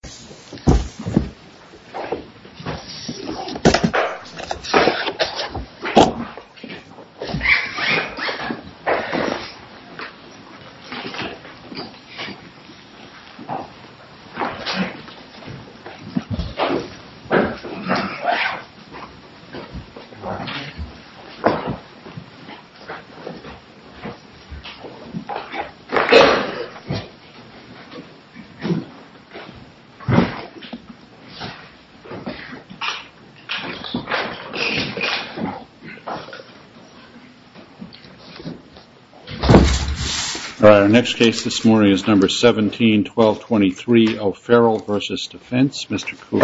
Mr. Cooley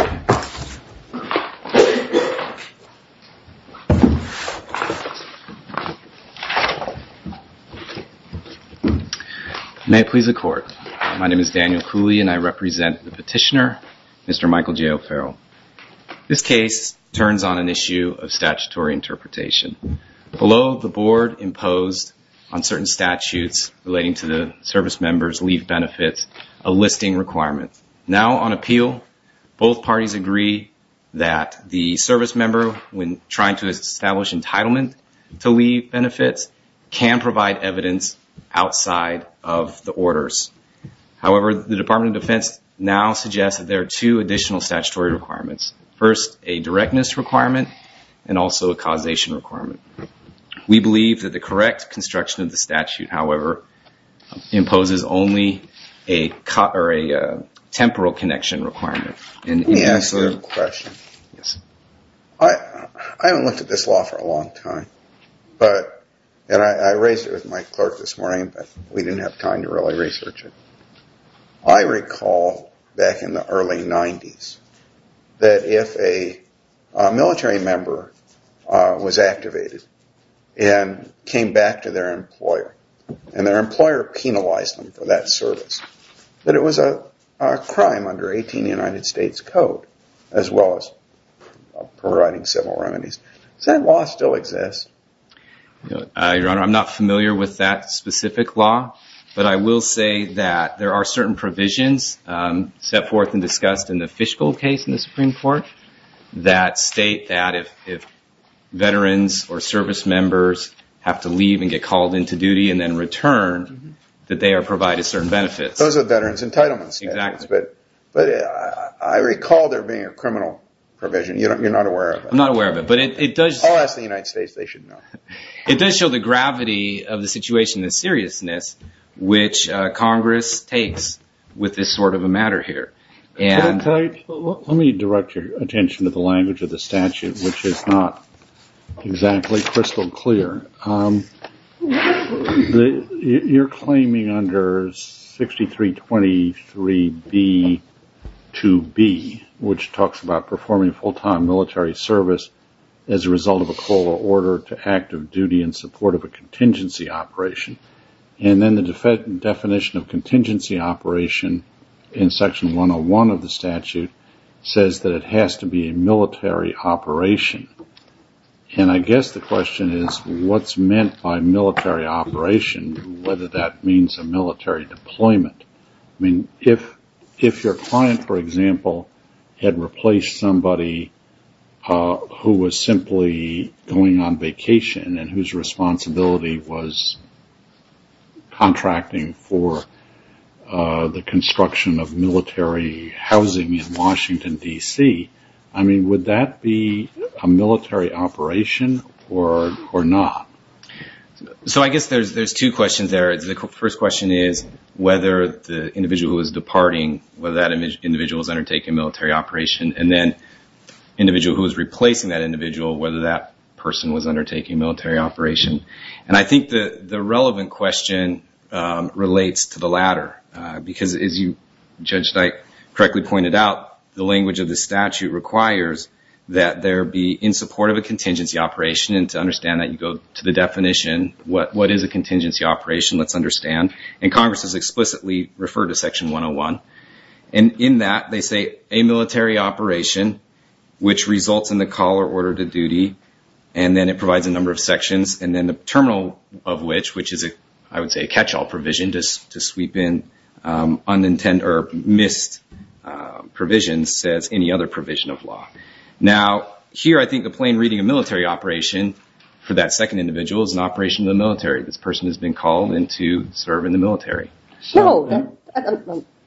May I please the court, my name is Daniel Kushner, Mr. Michael J. O'Farrell. This case turns on an issue of statutory interpretation. Below the board imposed on certain statutes relating to the service members leave benefits a listing requirement. Now on appeal both parties agree that the service member when trying to establish entitlement to leave benefits can provide evidence outside of the two additional statutory requirements. First a directness requirement and also a causation requirement. We believe that the correct construction of the statute, however, imposes only a temporal connection requirement. Let me ask another question. I haven't looked at this law for a long time. I raised it with my clerk this morning but we didn't have time to really research it. I recall back in the early 90s that if a military member was activated and came back to their employer and their as well as providing several remedies. Does that law still exist? Mr. Cooley I'm not familiar with that specific law but I will say that there are certain provisions set forth and discussed in the Fishgold case in the Supreme Court that state that if veterans or service members have to leave and get called into duty and then return that they are provided certain benefits. Those are veterans entitlements. I recall there being a criminal provision. You're not aware of it. I'll ask the United States, they should know. Mr. Cooley It does show the gravity of the situation and seriousness which Congress takes with this sort of a matter here. Mr. Daly Let me direct your attention to the language of the statute which is not exactly crystal clear. You're claiming under 6323B2B which talks about performing full-time military service as a result of a COLA order to active duty in support of a contingency operation. Then the definition of contingency operation in section 101 of the statute says that it has to be a military operation. I guess the question is what's meant by military operation, whether that means a military deployment. If your client for example had replaced somebody who was simply going on vacation and whose construction of military housing in Washington, D.C., would that be a military operation or not? Mr. Cooley So I guess there's two questions there. The first question is whether the individual who was departing, whether that individual was undertaking military operation. Then the individual who was replacing that individual, whether that person was undertaking military operation. I think the relevant question relates to the latter because as you, Judge Knight, correctly pointed out, the language of the statute requires that there be in support of a contingency operation and to understand that you go to the definition. What is a contingency operation? Let's understand. Congress has explicitly referred to section 101. In that they say a military operation which results in the COLA order to duty and then it provides a terminal of which, which is I would say a catch-all provision to sweep in unintended or missed provisions as any other provision of law. Now here I think the plain reading of military operation for that second individual is an operation of the military. This person has been called in to serve in the military. Ms. Laird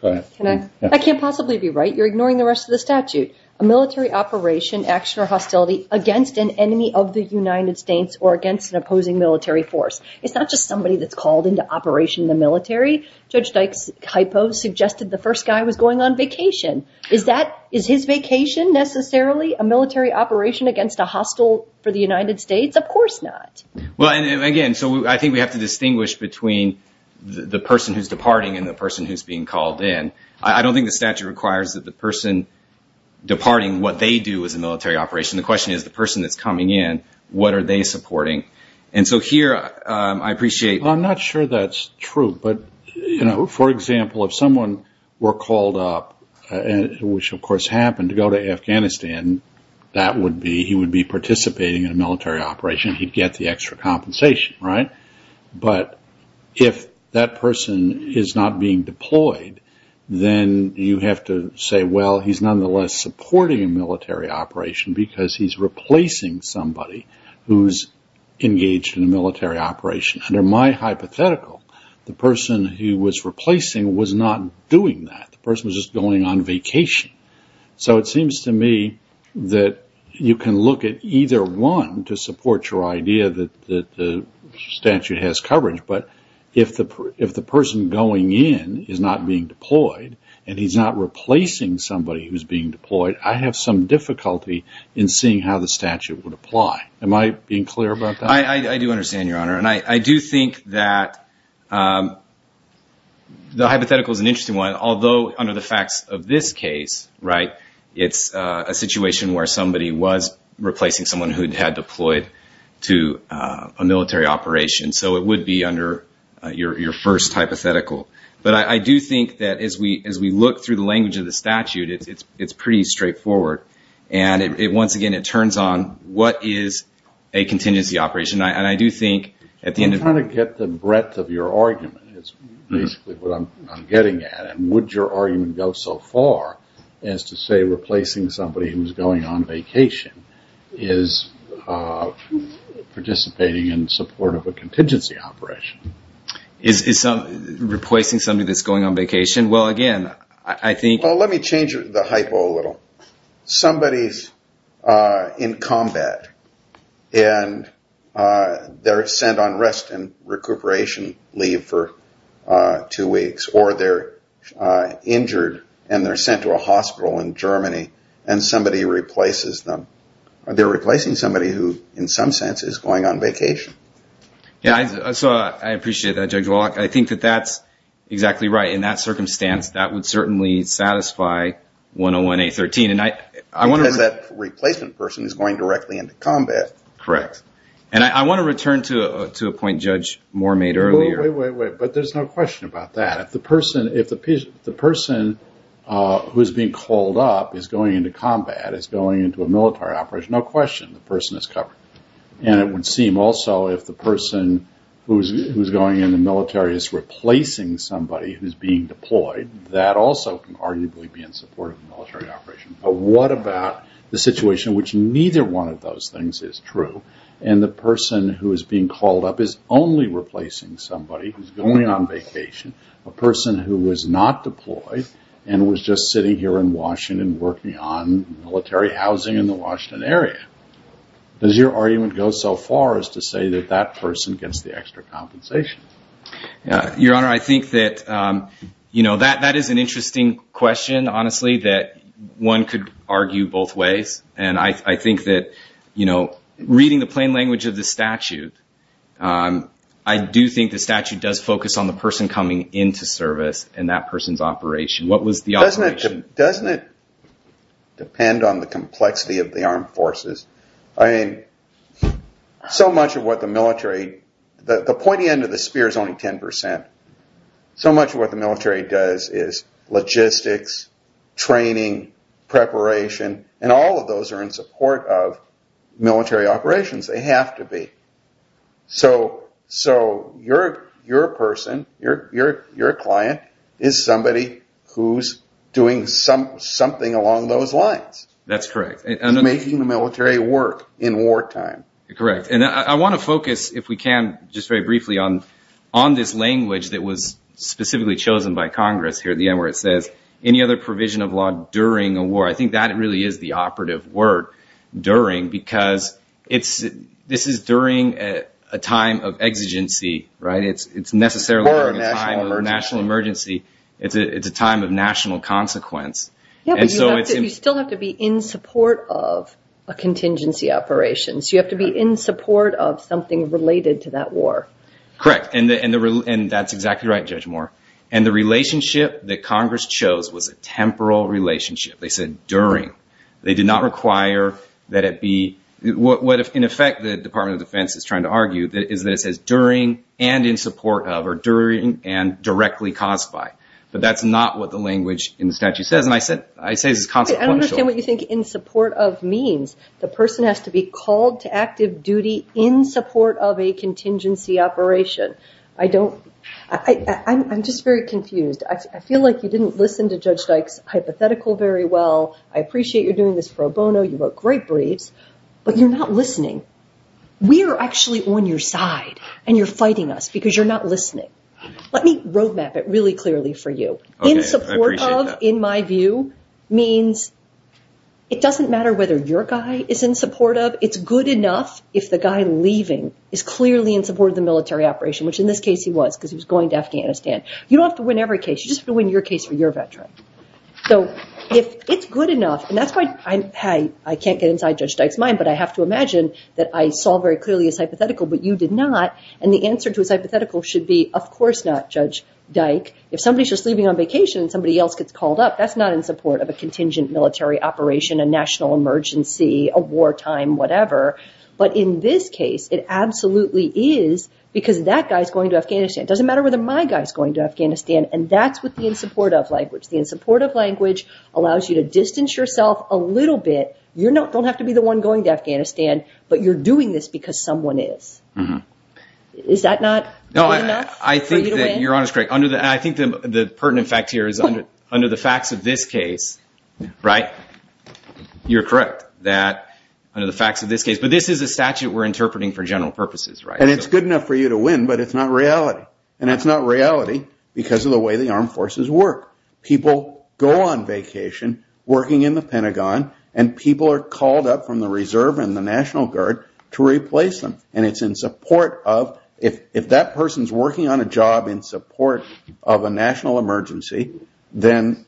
No. I can't possibly be right. You're ignoring the rest of the statute. A military operation, action or hostility against an enemy of the United States or against an opposing military force. It's not just somebody that's called into operation in the military. Judge Dykes' hypo suggested the first guy was going on vacation. Is that is his vacation necessarily a military operation against a hostile for the United States? Of course not. Judge Knight Well, and again, so I think we have to distinguish between the person who's departing and the person who's being called in. I don't think the statute requires that the person departing what they do is a military operation. The question is the person that's coming in, what are they supporting? And so here I appreciate I'm not sure that's true, but you know, for example, if someone were called up, which of course happened to go to Afghanistan, that would be he would be participating in a military operation. He'd get the extra compensation, right? But if that person is not being deployed, then you have to say, well, he's nonetheless supporting a military operation because he's replacing somebody who's engaged in a military operation. Under my hypothetical, the person who was replacing was not doing that. The person was just going on vacation. So it seems to me that you can look at either one to support your idea that the statute has coverage, but if the person going in is not being deployed and he's not replacing somebody who's being deployed, then that's not how the statute would apply. Am I being clear about that? I do understand, Your Honor. And I do think that the hypothetical is an interesting one, although under the facts of this case, right, it's a situation where somebody was replacing someone who had deployed to a military operation. So it would be under your first hypothetical. But I do think that as we look through the language of the statute, it's pretty straightforward. And once again, it turns on what is a contingency operation. And I do think at the end of... I'm trying to get the breadth of your argument, is basically what I'm getting at. And would your argument go so far as to say replacing somebody who's going on vacation is participating in support of a contingency operation? Is replacing somebody that's going on vacation? Well, again, I think... Well, let me change the hypo a little. Somebody's in combat and they're sent on rest and recuperation leave for two weeks, or they're injured and they're sent to a hospital in Germany and somebody replaces them. They're replacing somebody who, in some sense, is going on vacation. Yeah. So I appreciate that, Judge Wallach. I think that that's exactly right. In that circumstance, that would certainly satisfy 101A.13. Because that replacement person is going directly into combat. Correct. And I want to return to a point Judge Moore made earlier. Wait, wait, wait. But there's no question about that. If the person who's being called up is going into combat, is going into a military operation, no question, the person is covered. And it would seem also if the person who's going in the military is replacing somebody who's being deployed, that also can arguably be in support of the military operation. But what about the situation in which neither one of those things is true and the person who is being called up is only replacing somebody who's going on vacation, a person who was not deployed and was just sitting here in Washington working on military housing in the Washington area? Does your argument go so far as to say that that person gets the extra compensation? Your Honor, I think that that is an interesting question, honestly, that one could argue both ways. And I think that reading the plain language of the statute, I do think the statute does focus on the person coming into service and that person's operation. What was the operation? Doesn't it depend on the complexity of the armed forces? I mean, so much of what the military does, the pointy end of the spear is only 10%. So much of what the military does is logistics, training, preparation, and all of those are in support of military operations. They have to be. So your person, your client, is somebody who's doing something along those lines. That's correct. Making the military work in wartime. Correct. And I want to focus, if we can, just very briefly on this language that was specifically chosen by Congress here at the end where it says, any other provision of law during a war. I think that really is the operative word, during, because this is during a time of exigency, right? It's necessarily during a time of national emergency. It's a time of national consequence. Yeah, but you still have to be in support of a contingency operation. So you have to be in support of something related to that war. Correct. And that's exactly right, Judge Moore. And the relationship that Congress chose was a temporal relationship. They said during. They did not require that it be, what in effect the Department of Defense is trying to argue is that it says during and in support of or during and directly caused by. But that's not what the language in the statute says. And I say this is consequential. I don't understand what you think in support of means. The person has to be called to active duty in support of a contingency operation. I don't, I'm just very confused. I feel like you didn't listen to Judge Dyke's hypothetical very well. I appreciate you're doing this pro bono. You wrote great briefs, but you're not listening. We are actually on your side and you're fighting us because you're not listening. Let me road map it really clearly for you. In support of, in my view, means it doesn't matter whether your guy is in support of. It's good enough if the guy leaving is clearly in support of the military operation, which in this case he was because he was going to Afghanistan. You don't have to win every case. You just have to win your case for your veteran. So if it's good enough, and that's why I can't get inside Judge Dyke's mind, but I have to imagine that I saw very clearly his hypothetical, but you did not. And the answer to his hypothetical should be, of course not Judge Dyke. If somebody's just leaving on vacation and somebody else gets called up, that's not in support of a contingent military operation, a national emergency, a wartime, whatever. But in this case, it absolutely is because that guy's going to Afghanistan. It doesn't matter whether my guy's going to Afghanistan. And that's what the in support of language. The in support of language allows you to distance yourself a little bit. You don't have to be the one going to Afghanistan, but you're doing this because someone is. Is that not good enough for you to win? No, I think that you're honest, Craig. I think the pertinent fact here is under the facts of this case, right, you're correct that under the facts of this case, but this is a statute we're interpreting for general purposes, right? And it's good enough for you to win, but it's not reality. And it's not reality because of the way the armed forces work. People go on vacation working in the Pentagon, and people are called up from the reserve and the National Guard to replace them. And it's in support of if that person's working on a job in support of a national emergency, then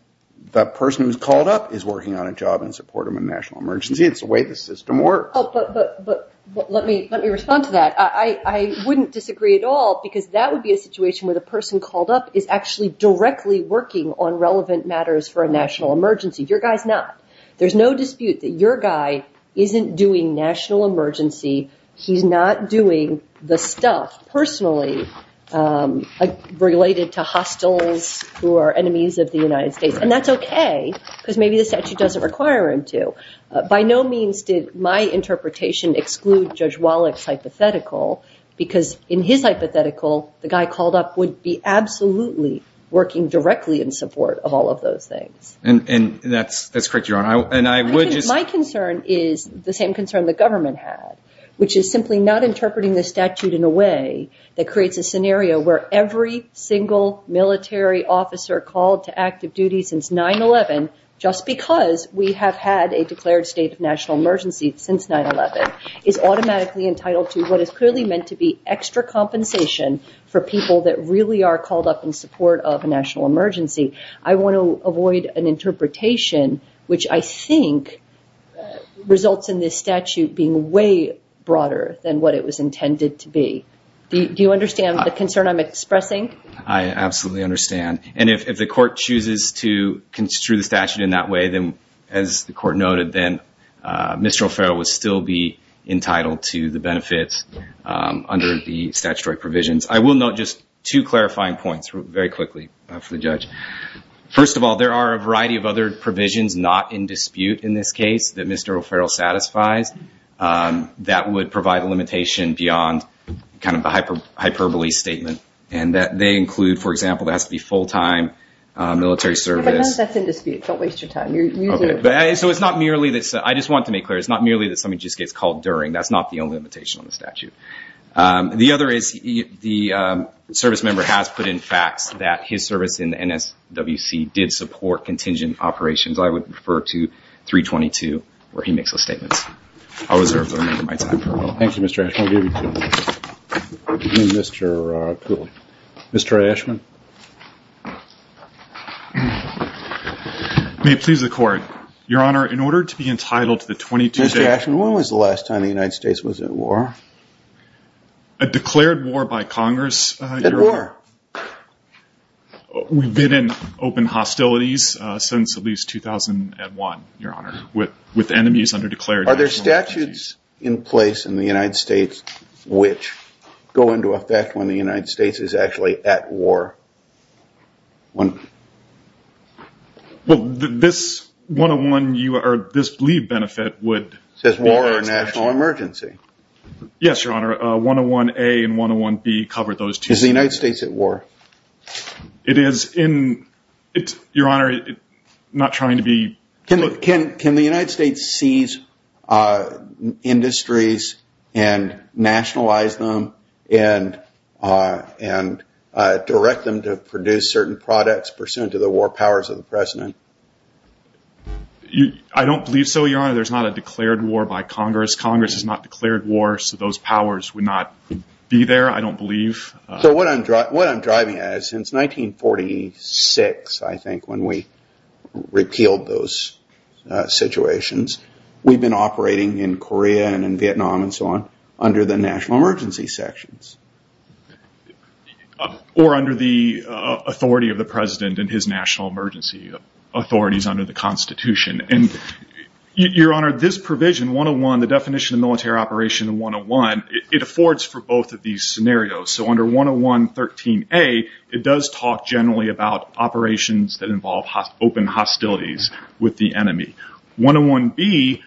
that person who's called up is working on a job in support of a national emergency. It's the way the system works. Oh, but let me respond to that. I wouldn't disagree at all because that would be a situation where the person called up is actually directly working on relevant matters for a national emergency. Your guy's not. There's no dispute that your guy isn't doing national emergency. He's not doing the stuff personally related to hostiles who are enemies of the United States. And that's okay because maybe the statute doesn't require him to. By no means did my interpretation exclude Judge Wallach's hypothetical because in his hypothetical, the guy called up would be absolutely working directly in support of all of those things. And that's correct, Your Honor. My concern is the same concern the government had, which is simply not interpreting the statute in a way that creates a scenario where every single military officer called to active duty since 9-11, just because we have had a declared state of national emergency since 9-11, is automatically entitled to what is clearly meant to be extra compensation for people that really are called up in support of a national emergency. I want to avoid an interpretation which I think results in this statute being way broader than what it was intended to be. Do you understand the concern I'm expressing? I absolutely understand. And if the court chooses to construe the statute in that way, then as the court noted, then Mr. O'Farrell would still be entitled to the benefits under the statutory provisions. I will note just two clarifying points very quickly for the judge. First of all, there are a variety of other provisions not in dispute in this case that Mr. O'Farrell satisfies that would provide a limitation beyond kind of a hyperbole statement. And that they include, for example, it has to be full-time military service. Sometimes that's in dispute. Don't waste your time. You're using it. So it's not merely this. I just want to make clear. It's not merely that somebody just gets called during. That's not the only limitation on the statute. The other is the service member has put in facts that his service in the NSWC did support contingent operations. I would refer to 322, where he makes those statements. I'll reserve the remainder of my time for a while. Thank you, Mr. Ashman. I'll give you two. Again, Mr. Pooley. Mr. Ashman? May it please the court. Your Honor, in order to be entitled to the 22-day- Mr. Ashman, when was the last time the United States was at war? A declared war by Congress, Your Honor. At war. We've been in open hostilities since at least 2001, Your Honor, with enemies under declared nationalities. Are there statutes in place in the United States which go into effect when the United States is actually at war? Well, this 101 or this leave benefit would- Says war or national emergency. Yes, Your Honor. 101A and 101B cover those two. Is the United States at war? It is. Your Honor, I'm not trying to be- Can the United States seize industries and nationalize them and direct them to produce certain products pursuant to the war powers of the President? I don't believe so, Your Honor. There's not a declared war by Congress. Congress has not declared war, so those powers would not be there, I don't believe. What I'm driving at is since 1946, I think, when we repealed those situations, we've been operating in Korea and in Vietnam and so on under the national emergency sections. Or under the authority of the President and his national emergency authorities under the Constitution. Your Honor, this provision, 101, the definition of military operation 101, it affords for both of these scenarios. Under 10113A, it does talk generally about operations that involve open hostilities with the enemy. 101B-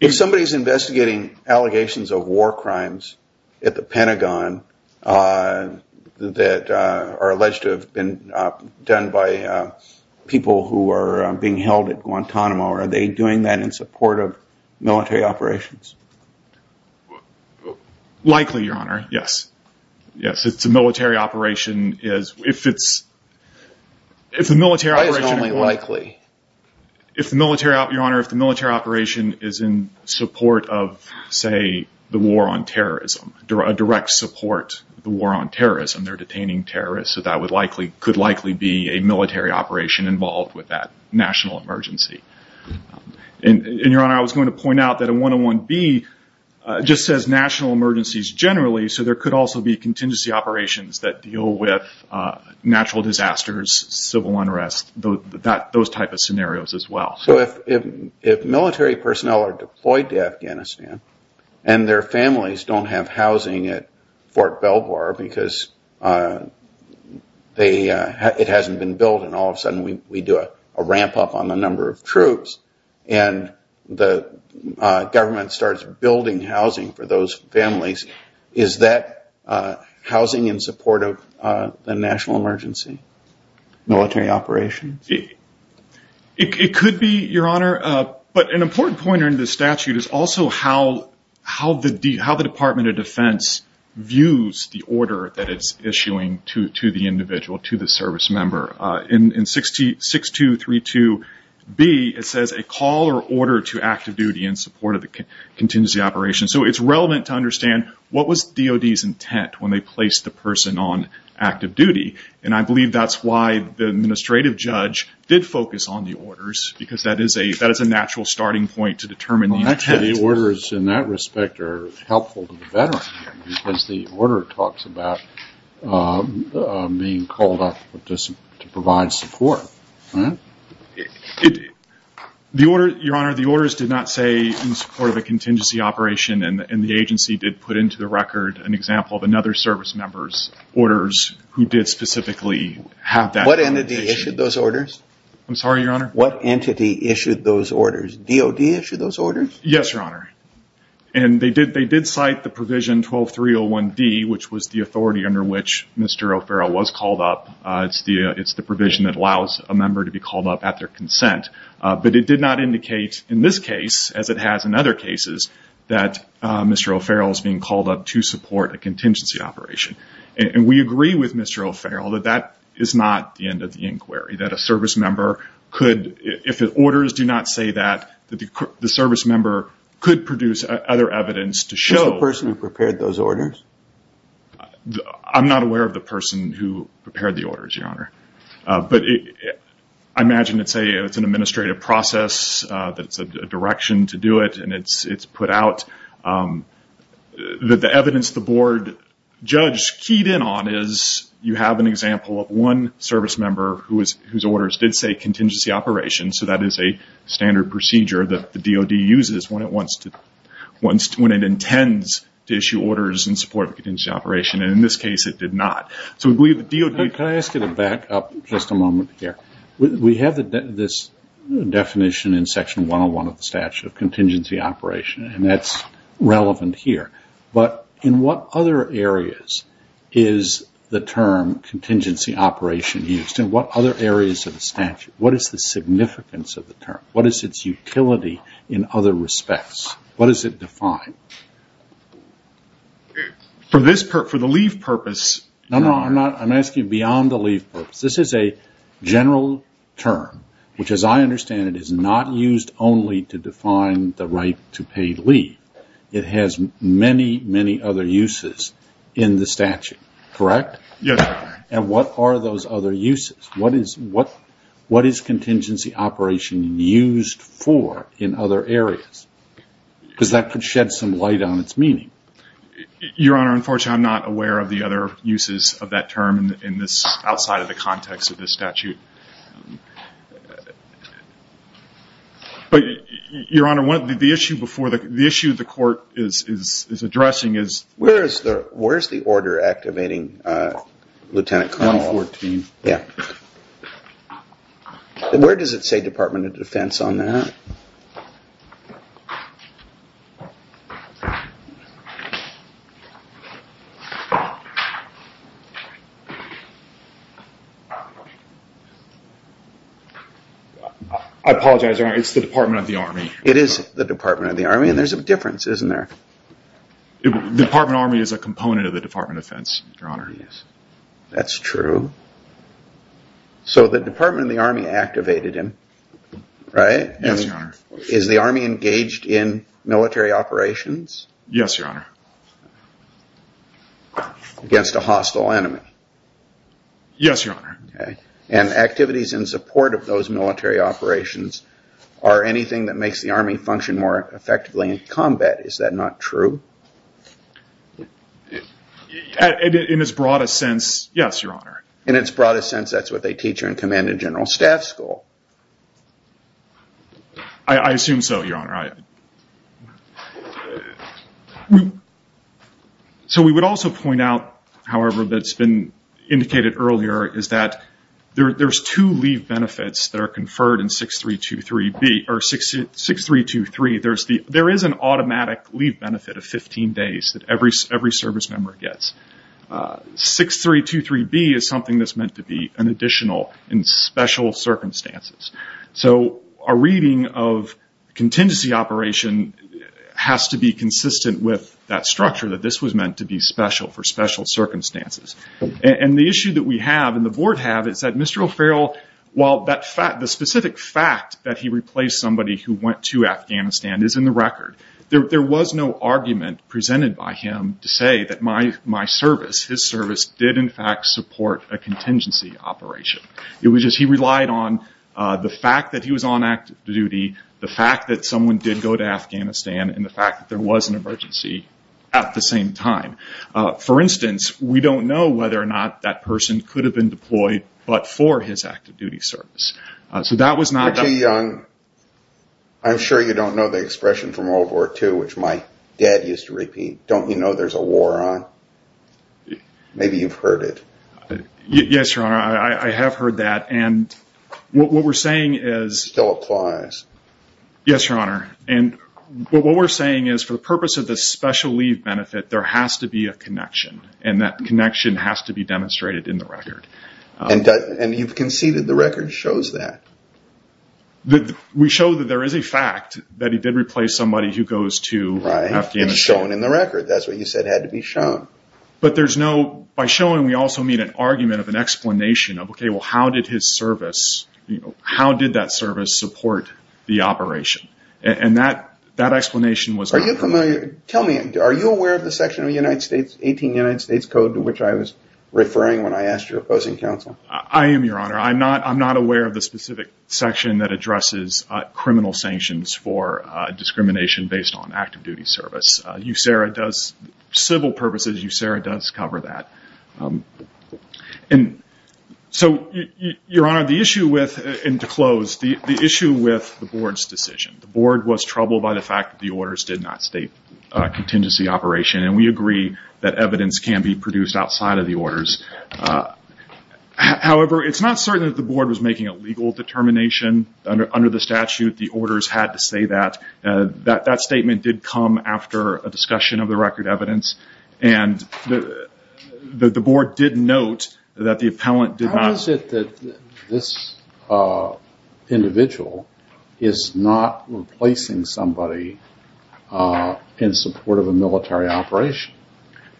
If somebody's investigating allegations of war crimes at the Pentagon that are alleged to have been done by people who are being held at Guantanamo, are they doing that in support of military operations? Likely, Your Honor. Yes. Yes. If the military operation is in support of, say, the war on terrorism, a direct support of the war on terrorism, they're detaining terrorists, so that could likely be a military operation involved with that national emergency. Your Honor, I was going to point out that 101B just says national emergencies generally, so there could also be contingency operations that deal with natural disasters, civil unrest, those type of scenarios as well. If military personnel are deployed to Afghanistan and their families don't have housing at Fort Lee, it hasn't been built, and all of a sudden we do a ramp up on the number of troops and the government starts building housing for those families, is that housing in support of the national emergency, military operations? It could be, Your Honor, but an important point in the statute is also how the Department of Defense views the order that it's issuing to the individual, to the service member. In 6232B, it says, a call or order to active duty in support of the contingency operation. It's relevant to understand what was DOD's intent when they placed the person on active duty, and I believe that's why the administrative judge did focus on the orders, because that is a natural starting point to determine the intent. Actually, the orders in that respect are helpful to the veteran, because the order talks about being called up to provide support. Your Honor, the orders did not say in support of a contingency operation, and the agency did put into the record an example of another service member's orders who did specifically have that intention. What entity issued those orders? I'm sorry, Your Honor? What entity issued those orders? DOD issued those orders? Yes, Your Honor. They did cite the provision 12301D, which was the authority under which Mr. O'Farrell was called up. It's the provision that allows a member to be called up at their consent, but it did not indicate in this case, as it has in other cases, that Mr. O'Farrell is being called up to support a contingency operation. We agree with Mr. O'Farrell that that is not the end of the inquiry. If the orders do not say that, the service member could produce other evidence to show... Who's the person who prepared those orders? I'm not aware of the person who prepared the orders, Your Honor. I imagine it's an administrative process that's a direction to do it, and it's put out. The evidence the board judge keyed in on is you have an example of one service member whose orders did say contingency operation, so that is a standard procedure that the DOD uses when it intends to issue orders in support of a contingency operation. In this case, it did not. Can I ask you to back up just a moment here? We have this definition in Section 101 of contingency operation, and that's relevant here, but in what other areas is the term contingency operation used? In what other areas of the statute? What is the significance of the term? What is its utility in other respects? What does it define? For the leave purpose... No, no. I'm asking beyond the leave purpose. This is a general term, which as I understand it, is not used only to define the right to pay leave. It has many, many other uses in the statute, correct? What are those other uses? What is contingency operation used for in other areas? That could shed some light on its meaning. Your Honor, unfortunately, I'm not aware of the other uses of that term outside of the context of this statute. Your Honor, the issue the court is addressing is... Where's the order activating Lieutenant Carlisle? 2014. Where does it say Department of Defense on that? I apologize, Your Honor. It's the Department of the Army. It is the Department of the Army, and there's a difference, isn't there? The Department of the Army is a component of the Department of Defense, Your Honor. That's true. The Department of the Army activated him, right? Yes, Your Honor. Is the Army engaged in military operations? Yes, Your Honor. Against a hostile enemy? Yes, Your Honor. And activities in support of those military operations are anything that makes the Army function more effectively in combat. Is that not true? In its broadest sense, yes, Your Honor. In its broadest sense, that's what they teach in command and general staff school? I assume so, Your Honor. So we would also point out, however, that's been indicated earlier is that there's two leave benefits that are conferred in 6323B. There is an automatic leave benefit of 15 days that every service member gets. 6323B is something that's meant to be an additional in special circumstances. So a reading of contingency operation has to be consistent with that structure that this was meant to be special for special circumstances. The issue that we have and the Board have is that Mr. O'Farrell, while the specific fact that he replaced somebody who went to Afghanistan is in the record, there was no service. His service did, in fact, support a contingency operation. It was just he relied on the fact that he was on active duty, the fact that someone did go to Afghanistan, and the fact that there was an emergency at the same time. For instance, we don't know whether or not that person could have been deployed but for his active duty service. So that was not... Richie Young, I'm sure you don't know the expression from World War II, which my dad used to repeat, don't you know there's a war on? Maybe you've heard it. Yes, Your Honor. I have heard that. And what we're saying is... Still applies. Yes, Your Honor. And what we're saying is for the purpose of the special leave benefit, there has to be a connection and that connection has to be demonstrated in the record. And you've conceded the record shows that. We show that there is a fact that he did replace somebody who goes to Afghanistan. Right, and it's shown in the record. That's what you said had to be shown. But there's no... By showing, we also mean an argument of an explanation of, okay, well how did his service... How did that service support the operation? And that explanation was... Are you familiar... Tell me, are you aware of the section of the United States, 18 United States Code, to which I was referring when I asked your opposing counsel? I am, Your Honor. I'm not aware of the specific section that addresses criminal sanctions for discrimination based on active duty service. USERA does... Civil purposes, USERA does cover that. And so, Your Honor, the issue with... And to close, the issue with the board's decision. The board was troubled by the fact that the orders did not state contingency operation. And we agree that evidence can be produced outside of the orders. However, it's not certain that the board was making a legal determination. Under the statute, the orders had to say that. That statement did come after a discussion of the record evidence. And the board did note that the appellant did not... How is it that this individual is not replacing somebody in support of a military operation?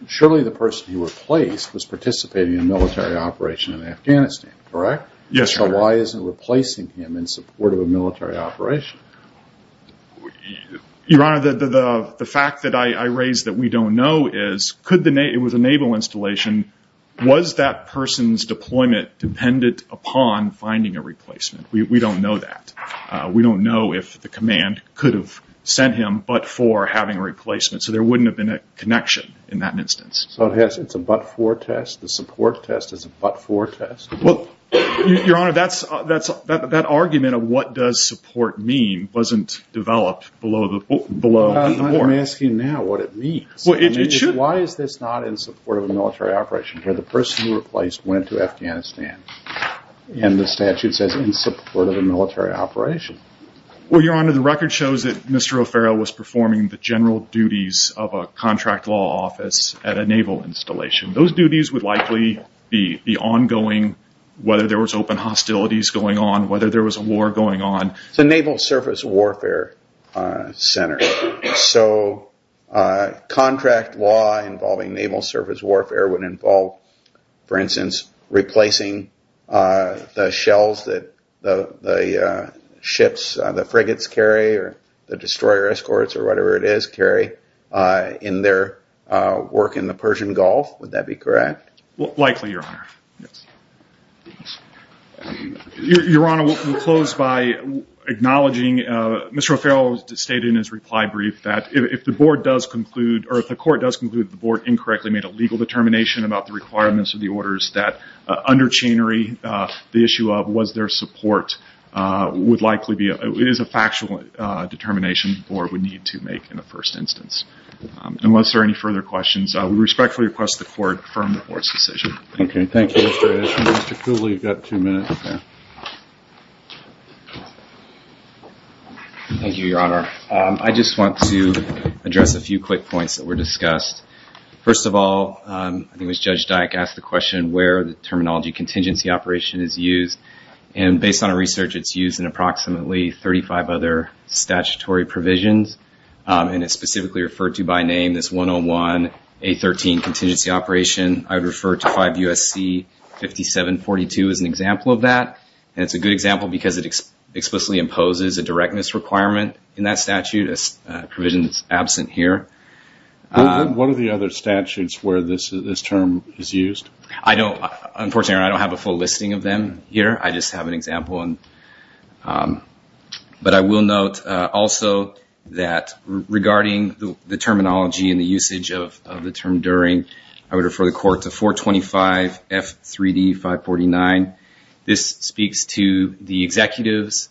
Surely the person he replaced was participating in a military operation in Afghanistan, correct? Yes, Your Honor. So why isn't replacing him in support of a military operation? Your Honor, the fact that I raised that we don't know is... It was a naval installation. Was that person's deployment dependent upon finding a replacement? We don't know that. We don't know if the command could have sent him but for having a replacement. So there wouldn't have been a connection in that instance. So it's a but-for test? The support test is a but-for test? Well, Your Honor, that argument of what does support mean wasn't developed below the board. I'm asking now what it means. Why is this not in support of a military operation? The person who replaced went to Afghanistan. And the statute says in support of a military operation. Well, Your Honor, the record shows that Mr. O'Farrell was performing the general duties of a contract law office at a naval installation. Those duties would likely be the ongoing, whether there was open hostilities going on, whether there was a war going on. It's a naval surface warfare center. So contract law involving naval surface warfare would involve, for instance, replacing the shells that the frigates carry or the destroyer escorts or whatever it is carry in their work in the Persian Gulf. Would that be correct? Your Honor, we'll close by acknowledging Mr. O'Farrell stated in his reply brief that if the board does conclude, or if the court does conclude that the board incorrectly made a legal determination about the requirements of the orders that under Chenery, the issue of was there support is a factual determination the board would need to make in the first instance. Unless there are any further questions, I respectfully request the court confirm the board's decision. Thank you. Mr. Cooley, you've got two minutes. Thank you, Your Honor. I just want to address a few quick points that were discussed. First of all, I think it was Judge Dyck asked the question where the terminology contingency operation is used. And based on our research, it's used in approximately 35 other statutory provisions. And it's specifically referred to by name as 101A13 contingency operation. I would refer to 5 U.S.C. 5742 as an example of that. And it's a good example because it explicitly imposes a directness requirement in that statute, a provision that's absent here. What are the other statutes where this term is used? Unfortunately, I don't have a full listing of them here. I just have an example. But I will note also that regarding the terminology and the usage of the term during, I would refer the court to 425F3D549. This speaks to the executive's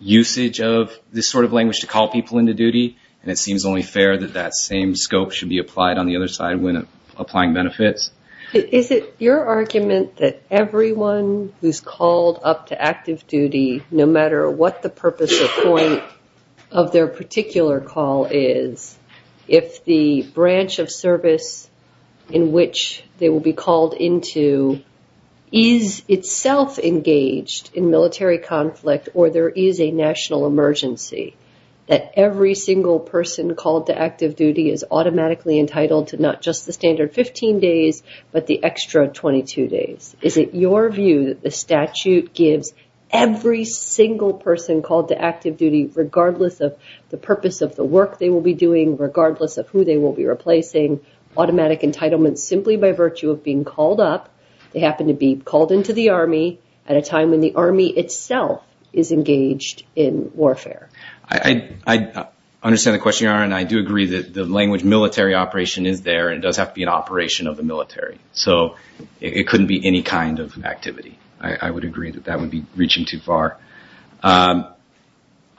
usage of this sort of language to call people into duty. And it seems only fair that that same scope should be applied on the other side when applying benefits. Is it your argument that everyone who's called up to active duty, no matter what the purpose or point of their particular call is, if the branch of service in which they will be called into is itself engaged in military conflict or there is a national emergency, that every single person called to active duty is automatically entitled to not just the standard 15 days, but the extra 22 days? Is it your view that the statute gives every single person called to active duty, regardless of the purpose of the work they will be doing, regardless of who they will be replacing, automatic entitlement simply by virtue of being called up, they happen to be called into the Army at a time when the Army itself is engaged in warfare? I understand the question, Your Honor, and I do agree that the language military operation is there and does have to be an operation of the military. So it couldn't be any kind of activity. I would agree that that would be reaching too far.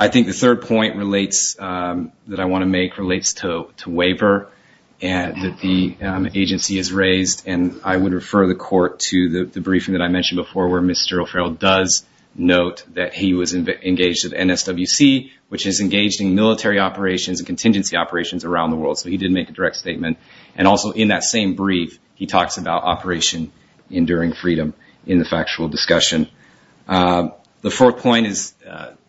I think the third point relates, that I want to make, relates to waiver that the agency has raised. And I would refer the Court to the briefing that I mentioned before where Mr. O'Farrell does note that he was engaged with NSWC, which is engaged in military operations and contingency operations around the world. So he did make a direct statement. And also in that same brief, he talks about operation, enduring freedom in the factual discussion. The fourth point is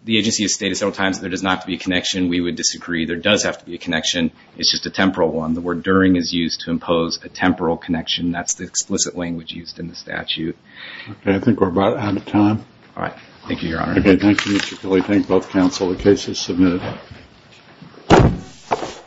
the agency has stated several times that there does not have to be a connection. We would disagree. There does have to be a connection. It's just a temporal one. The word during is used to impose a temporal connection. That's the explicit language used in the statute. Okay. I think we're about out of time. All right. Thank you, Your Honor. Okay. Thank you, Mr. Killey. Thank both counsel. The case is submitted.